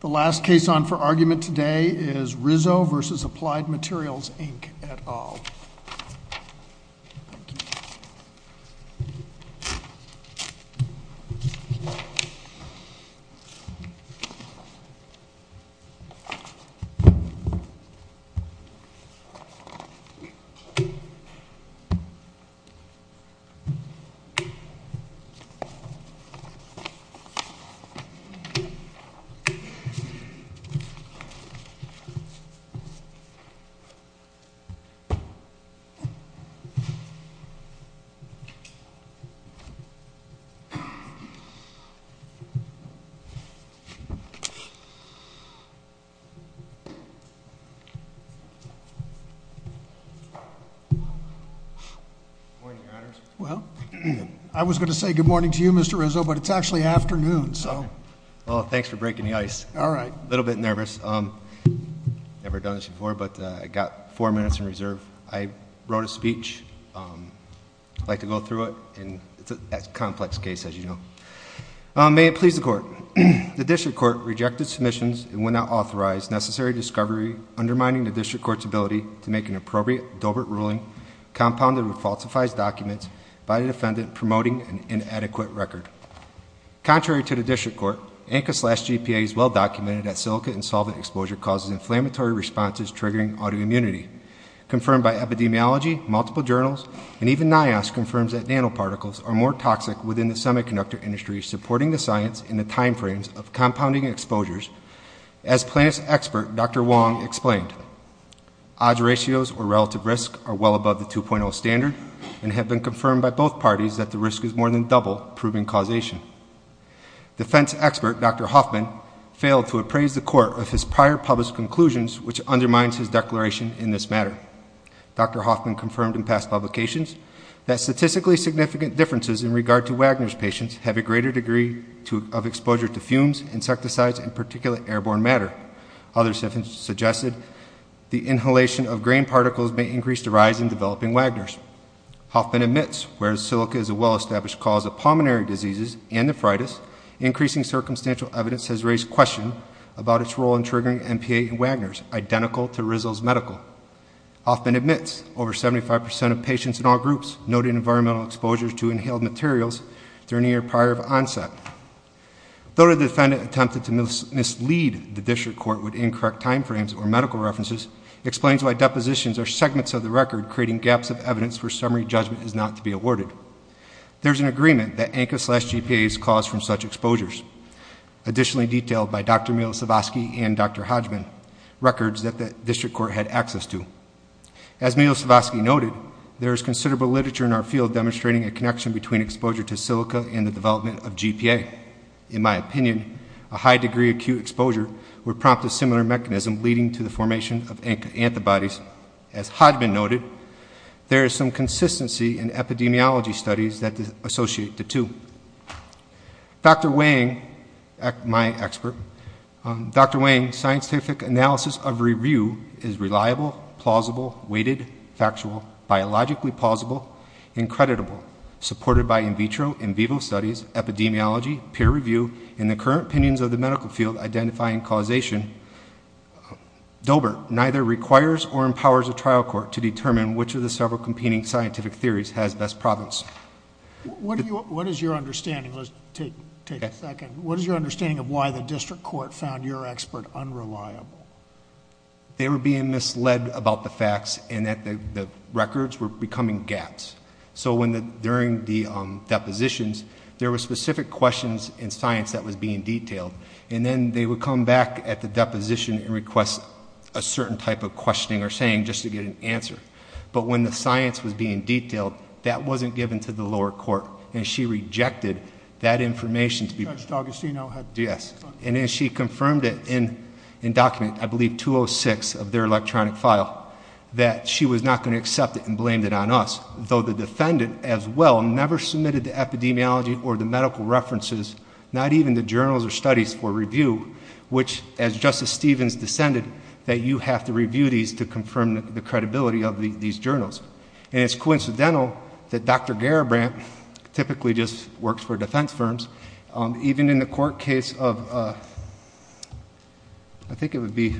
The last case on for argument today is Rizzo v. Applied Materials, Inc. et al. Good morning your honors. Well, I was going to say good morning to you Mr. Rizzo, but it's actually afternoon, so. Well, thanks for breaking the ice. All right. A little bit nervous. I've never done this before, but I've got four minutes in reserve. I wrote a speech. I'd like to go through it. It's a complex case, as you know. May it please the court. The district court rejected submissions and will not authorize necessary discovery undermining the district court's ability to make an appropriate dovert ruling compounded falsifies documents by the defendant promoting an inadequate record. Contrary to the district court, ANCA-slash-GPA is well documented that silicate and solvent exposure causes inflammatory responses triggering autoimmunity. Confirmed by epidemiology, multiple journals, and even NIOS confirms that nanoparticles are more toxic within the semiconductor industry supporting the science in the time frames of compounding exposures. As plaintiff's expert, Dr. Wong, explained, odds ratios or relative risk are well above the 2.0 standard and have been confirmed by both parties that the risk is more than double, proving causation. Defense expert, Dr. Hoffman, failed to appraise the court of his prior published conclusions, which undermines his declaration in this matter. Dr. Hoffman confirmed in past publications that statistically significant differences in regard to Wagner's patients have a greater degree of exposure to fumes, insecticides, and particularly airborne matter. Others have suggested the inhalation of grain particles may increase the rise in developing Wagners. Hoffman admits, whereas silica is a well-established cause of pulmonary diseases and nephritis, increasing circumstantial evidence has raised questions about its role in triggering MPA in Wagners, identical to Rizl's medical. Hoffman admits, over 75% of patients in all groups noted environmental exposures to inhaled materials during the year prior of onset. Though the defendant attempted to mislead the district court with incorrect time frames or medical references, he explains why depositions are segments of the record, creating gaps of evidence where summary judgment is not to be awarded. There's an agreement that ANCA-slash-GPAs cause from such exposures. Additionally detailed by Dr. Milosevsky and Dr. Hodgman, records that the district court had access to. As Milosevsky noted, there is considerable literature in our field demonstrating a connection between exposure to silica and the development of GPA. In my opinion, a high degree of acute exposure would prompt a similar mechanism leading to the formation of antibodies. As Hodgman noted, there is some consistency in epidemiology studies that associate the two. Dr. Wang, my expert, Dr. Wang's scientific analysis of review is reliable, plausible, weighted, factual, biologically plausible, and creditable. Supported by in vitro and vivo studies, epidemiology, peer review, and the current opinions of the medical field identifying causation, DOBER neither requires or empowers a trial court to determine which of the several competing scientific theories has best province. What is your understanding? Let's take a second. What is your understanding of why the district court found your expert unreliable? They were being misled about the facts and that the records were becoming gaps. So during the depositions, there were specific questions in science that was being detailed, and then they would come back at the deposition and request a certain type of questioning or saying just to get an answer. But when the science was being detailed, that wasn't given to the district court. Judge D'Augustino? Yes. And then she confirmed it in document, I believe 206 of their electronic file, that she was not going to accept it and blamed it on us, though the defendant as well never submitted the epidemiology or the medical references, not even the journals or studies for review, which as Justice Stevens dissented, that you have to review these to confirm the credibility of these journals. And it's coincidental that Dr. Garibrand typically just works for defense firms, even in the court case of, I think it would be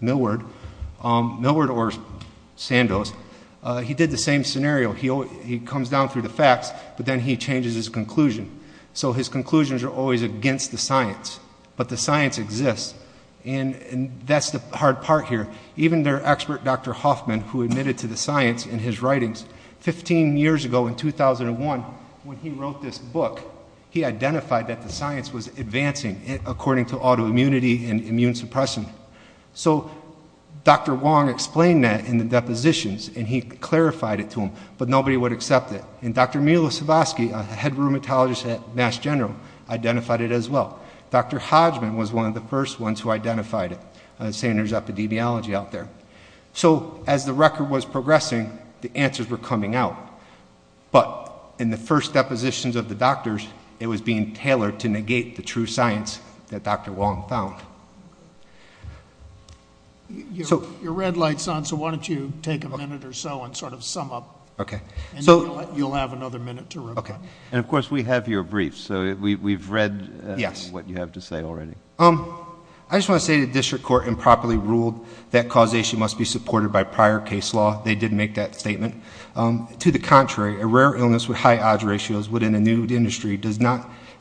Milward, Milward or Sandoz, he did the same scenario. He comes down through the facts, but then he changes his conclusion. So his conclusions are always against the science, but the science exists. And that's the hard part here. Even their expert, Dr. Hoffman, who admitted to the science in his book, he identified that the science was advancing according to autoimmunity and immune suppression. So Dr. Wong explained that in the depositions and he clarified it to him, but nobody would accept it. And Dr. Milosevsky, head rheumatologist at Mass General, identified it as well. Dr. Hodgman was one of the first ones who identified it, saying there's epidemiology out there. So as the record was progressing, the answers were coming out. But in the first depositions of the doctors, it was being tailored to negate the true science that Dr. Wong found. Your red light's on, so why don't you take a minute or so and sort of sum up. And you'll have another minute to reply. And of course, we have your brief, so we've read what you have to say already. I just want to say the district court improperly ruled that causation must be supported by prior case law. They did make that statement. To the contrary, a rare illness with high odds ratios within a new industry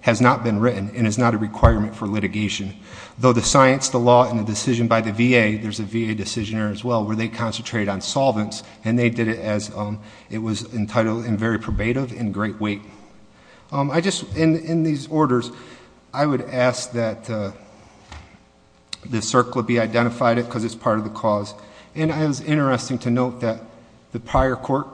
has not been written and is not a requirement for litigation. Though the science, the law, and the decision by the VA, there's a VA decision there as well, where they concentrated on solvents. And they did it as it was entitled and very probative and great weight. In these orders, I would ask that the CERC be identified because it's part of the cause. And it was interesting to note that the prior court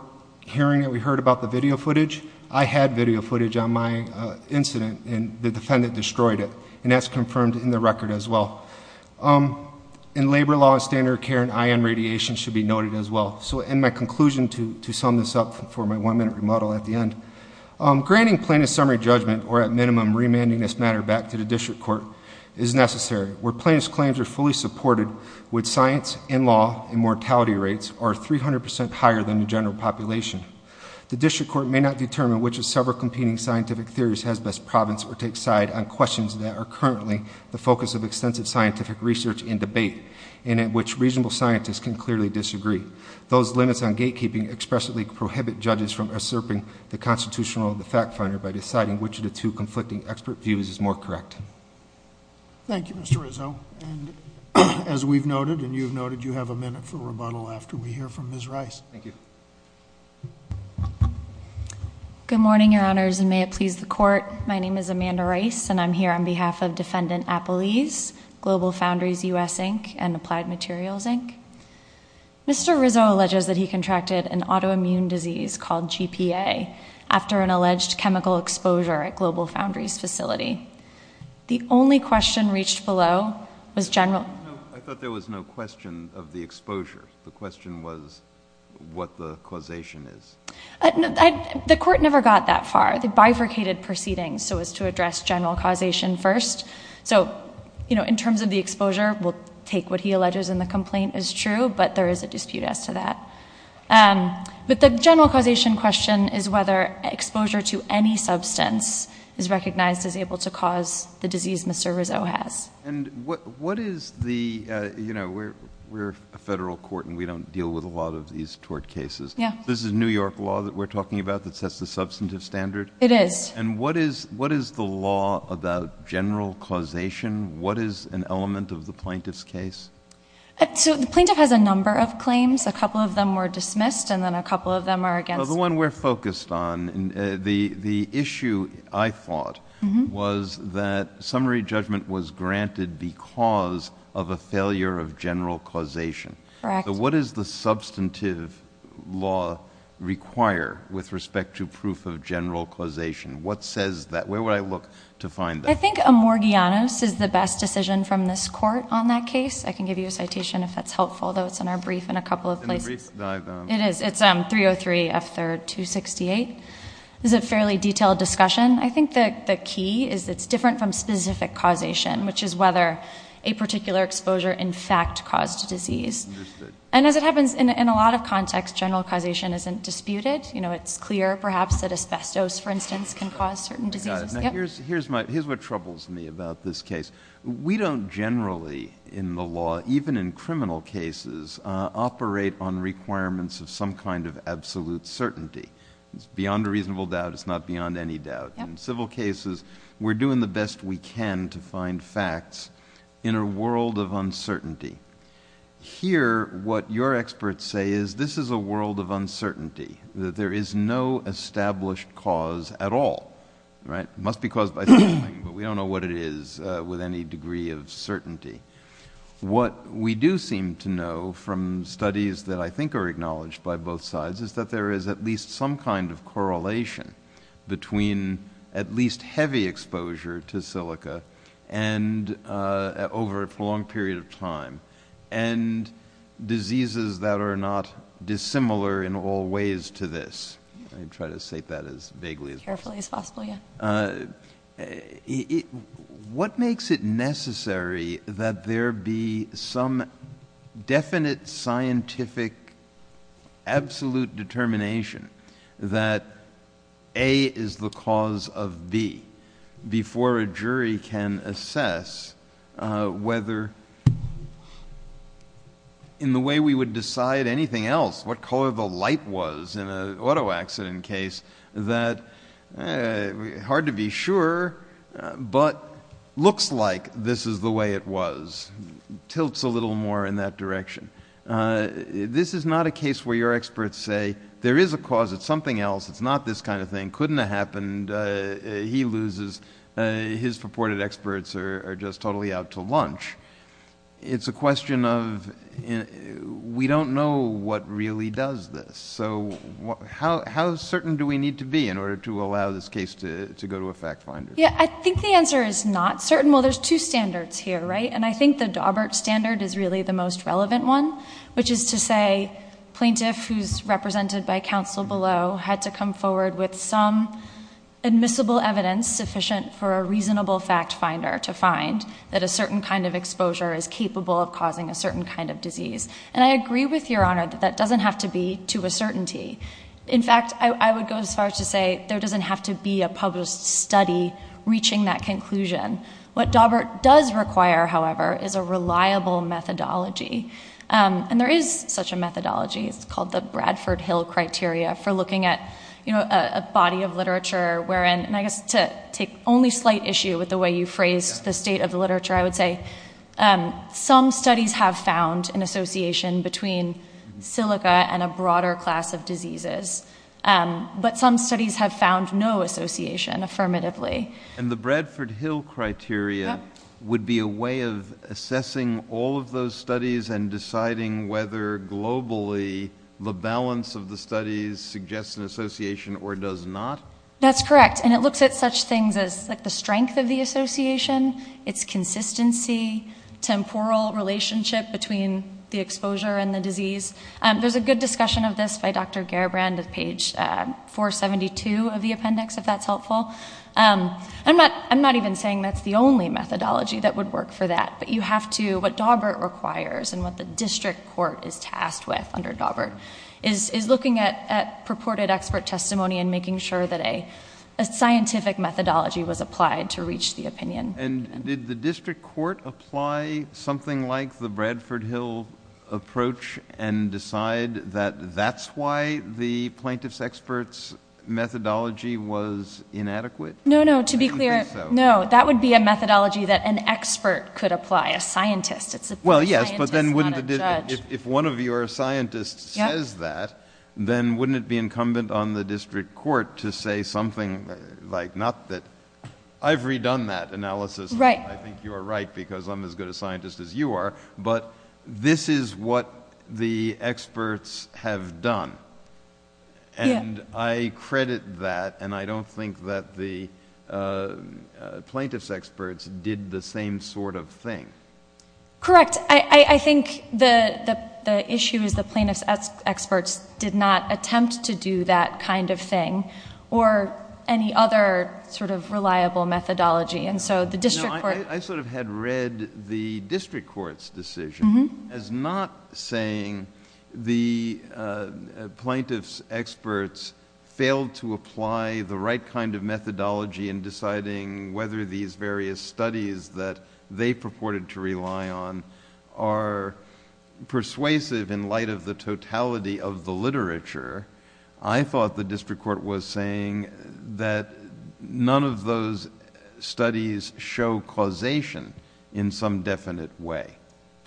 hearing that we heard about the video footage, I had video footage on my incident and the defendant destroyed it. And that's confirmed in the record as well. In labor law, standard of care and I.N. radiation should be noted as well. So in my conclusion to sum this up for my one minute remodel at the end, granting plaintiff's summary judgment or at minimum remanding this matter back to the district court is necessary. Where plaintiff's claims are fully supported with science and law and mortality rates are 300% higher than the general population. The district court may not determine which of several competing scientific theories has best province or take side on questions that are currently the focus of extensive scientific research and debate. And in which reasonable scientists can clearly disagree. Those limits on gatekeeping expressly prohibit judges from usurping the constitutional or the fact finder by deciding which of the two conflicting expert views is more correct. Thank you, Mr. Rizzo. And as we've noted and you've noted, you have a minute for rebuttal after we hear from Ms. Rice. Good morning, your honors, and may it please the court. My name is Amanda Rice and I'm here on behalf of Defendant Appelese, Global Foundries U.S. Inc. and Applied Materials Inc. Mr. Rizzo alleges that he contracted an autoimmune disease called GPA after an alleged chemical exposure at Global Foundries facility. The only question reached below was general. I thought there was no question of the exposure. The question was what the causation is. The court never got that far. They bifurcated proceedings so as to address general causation first. So, you know, in terms of the exposure, we'll take what he alleges in the complaint is true, but there is a dispute as to that. But the general causation question is whether exposure to any substance is recognized as able to cause the disease Mr. Rizzo has. And what is the, you know, we're a federal court and we don't deal with a lot of these tort cases. This is New York law that we're talking about that sets the substantive standard? It is. And what is the law about general causation? What is an element of the plaintiff's case? So the plaintiff has a number of claims. A couple of them were dismissed and then a couple of them are against. The one we're focused on, the issue I thought was that summary judgment was granted because of a failure of general causation. What is the substantive law require with respect to proof of general causation? What says that? Where would I look to find that? I think Amorgianos is the best decision from this court on that case. I can give you a citation if that's helpful, though it's in our brief in a couple of places. It is. It's 303 F3rd 268. It's a fairly detailed discussion. I think the key is it's different from specific causation, which is whether a particular exposure in fact caused a disease. And as it happens in a lot of context, general causation isn't disputed. You know, it's clear perhaps that asbestos, for instance, can cause certain diseases. Here's what troubles me about this case. We don't generally in the law, even in criminal cases, operate on requirements of some kind of absolute certainty. It's beyond a reasonable doubt. It's not beyond any doubt. In civil cases, we're doing the best we can to find facts in a world of uncertainty. Here, what your experts say is this is a world of uncertainty. There is no established cause at all, right? It must be caused by something, but we don't know what it is with any degree of certainty. What we do seem to know from studies that I think are acknowledged by both sides is that there is at least some kind of correlation between at least heavy exposure to silica and over a prolonged period of time and diseases that are not dissimilar in all ways to this. I try to state that as vaguely as possible. What makes it necessary that there be some definite scientific absolute determination that A is the cause of B before a jury can assess whether in the way we would decide anything else, what color the light was in an auto accident case that hard to be sure, but looks like this is the way it was, tilts a little more in that direction. This is not a case where your experts say there is a cause. It's something else. It's not this kind of thing. Couldn't have happened. He loses. His purported experts are just totally out to lunch. It's a question of we don't know what really does this. How certain do we need to be in order to allow this case to go to a fact finder? I think the answer is not certain. There's two standards here. I think the Daubert standard is really the most relevant one, which is to say plaintiff who's represented by counsel below had to come forward with some admissible evidence sufficient for a reasonable fact finder to find that a certain kind of exposure is capable of causing a certain kind of disease. And I agree with your honor that that doesn't have to be to a certainty. In fact, I would go as far as to say there doesn't have to be a published study reaching that conclusion. What Daubert does require, however, is a reliable methodology. And there is such a methodology. It's called the Bradford Hill criteria for looking at a body of literature wherein, and I'm going to rephrase the state of the literature, I would say some studies have found an association between silica and a broader class of diseases. But some studies have found no association affirmatively. And the Bradford Hill criteria would be a way of assessing all of those studies and deciding whether globally the balance of the studies suggests an association or does not? That's correct. And it looks at such things as the strength of the association, its consistency, temporal relationship between the exposure and the disease. There's a good discussion of this by Dr. Gerbrand at page 472 of the appendix, if that's helpful. I'm not even saying that's the only methodology that would work for that. But you have to, what Daubert requires and what the district court is tasked with under Daubert is looking at purported expert testimony and making sure that a scientific methodology was applied to reach the opinion. And did the district court apply something like the Bradford Hill approach and decide that that's why the plaintiff's expert's methodology was inadequate? No, no. To be clear, no. That would be a methodology that an expert could apply, a scientist. Well, yes, but then wouldn't it, if one of your scientists says that, then wouldn't it be incumbent on the district court to say something like, not that, I've redone that analysis. I think you are right because I'm as good a scientist as you are, but this is what the experts have done. And I credit that and I don't think that the plaintiff's experts did the same sort of thing. Correct. I think the issue is the plaintiff's experts did not attempt to do that kind of thing or any other sort of reliable methodology. And so the district court... No, I sort of had read the district court's decision as not saying the plaintiff's experts failed to apply the right kind of methodology in deciding whether these various studies that they purported to rely on are persuasive in light of the totality of the literature. I thought the district court was saying that none of those studies show causation in some definite way.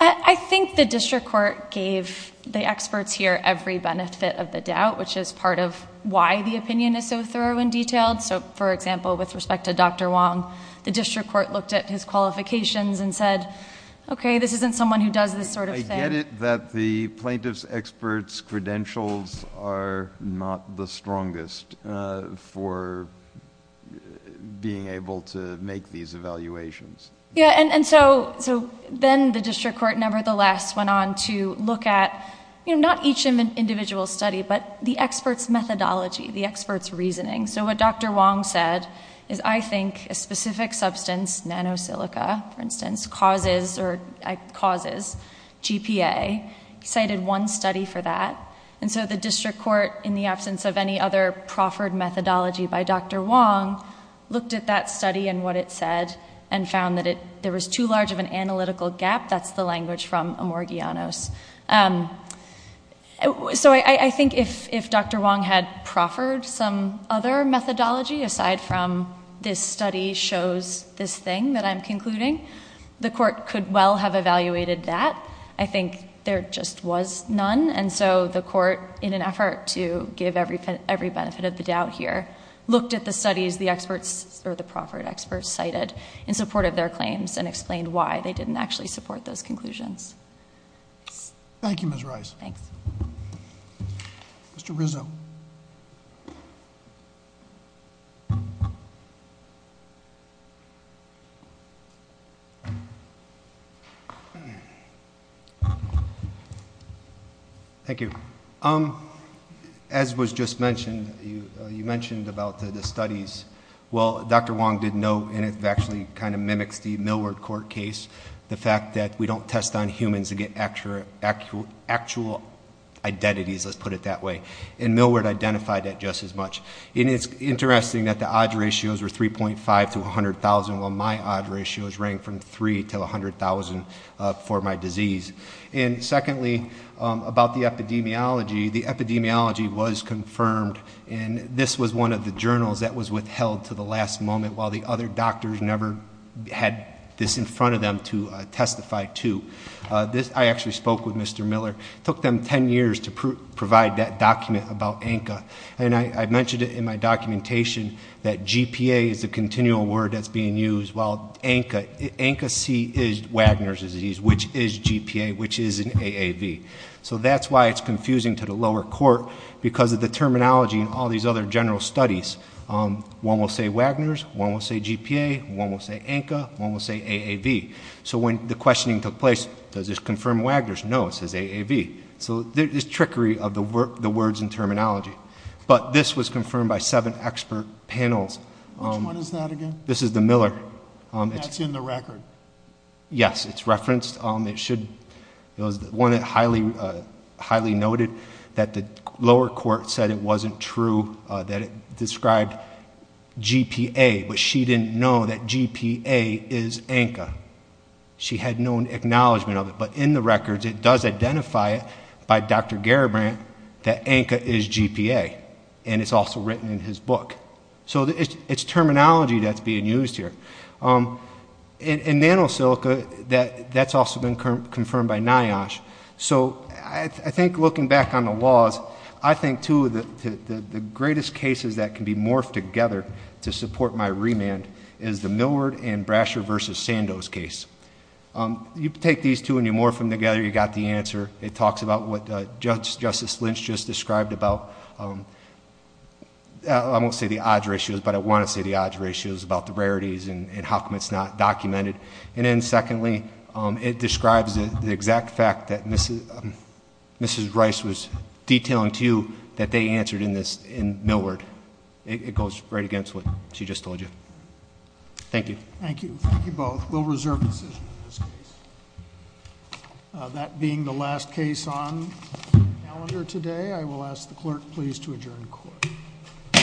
I think the district court gave the experts here every benefit of the doubt, which is part of why the opinion is so thorough and detailed. So, for example, with respect to Dr. Wong, the district court looked at his qualifications and said, okay, this isn't someone who does this sort of thing. I get it that the plaintiff's experts' credentials are not the strongest for being able to make these evaluations. Yeah, and so then the district court nevertheless went on to look at, you know, not each individual study, but the experts' methodology, the experts' reasoning. So what Dr. Wong said is, I think a specific substance, nanosilica, for instance, causes GPA. He cited one study for that, and so the district court, in the absence of any other proffered methodology by Dr. Wong, looked at that study and what it said and found that there was too large of an analytical gap. That's the language from Amorgianos. So I think if Dr. Wong had proffered some other methodology, aside from this study shows this thing that I'm concluding, the court could well have evaluated that. I think there just was none, and so the court, in an effort to give every benefit of the doubt here, looked at the studies the experts or the proffered experts cited in support of their claims and explained why they didn't actually support those conclusions. Thank you, Ms. Rice. Thanks. Mr. Rizzo. Thank you. As was just mentioned, you mentioned about the studies. Well, Dr. Wong did note, and it actually kind of mimics the Millward court case, the fact that we don't test on humans and get actual identities, let's put it that way. And Millward identified that just as much. And it's interesting that the odds ratios were 3.5 to 100,000, while my odds ratios rang from 3 to 100,000 for my disease. And secondly, about the epidemiology, the epidemiology was confirmed, and this was one of the journals that was withheld to the last moment, while the other doctors never had this in front of them to testify to. I actually spoke with Mr. Miller. It took them 10 years to provide that document about ANCA. And I mentioned it in my documentation that GPA is the continual word that's being used, while ANCA, ANCA-C is Wagner's disease, which is GPA, which is an AAV. So that's why it's confusing to the lower court, because of the terminology and all these other general studies. One will say Wagner's, one will say GPA, one will say ANCA, one will say AAV. So when the questioning took place, does this confirm Wagner's? No, it says AAV. So there's trickery of the words and terminology. But this was confirmed by seven expert panels. Which one is that again? This is the Miller. That's in the record. Yes, it's referenced. It should, it was one that highly, highly noted that the lower court said it wasn't true, that it described GPA, but she didn't know that GPA is ANCA. She had no acknowledgment of it. But in the records, it does identify it by Dr. Garibrandt that ANCA is GPA. And it's also written in his book. So it's terminology that's being used here. In NanoSilica, that's also been confirmed by NIOSH. So I think looking back on the laws, I think two of the greatest cases that can be morphed together to support my remand is the Millward and Brasher v. Sandoz case. You take these two and you morph them together, you got the answer. It talks about what Justice Lynch just described about, I won't say the odds ratios, but I want to say the odds ratios about the rarities and how come it's not documented. And then secondly, it describes the exact fact that Mrs. Rice was detailing to you that they answered in this, in Millward. It goes right against what she just told you. Thank you. Thank you. Thank you both. We'll reserve the decision in this case. That being the last case on calendar today, I will ask the clerk please to adjourn the court.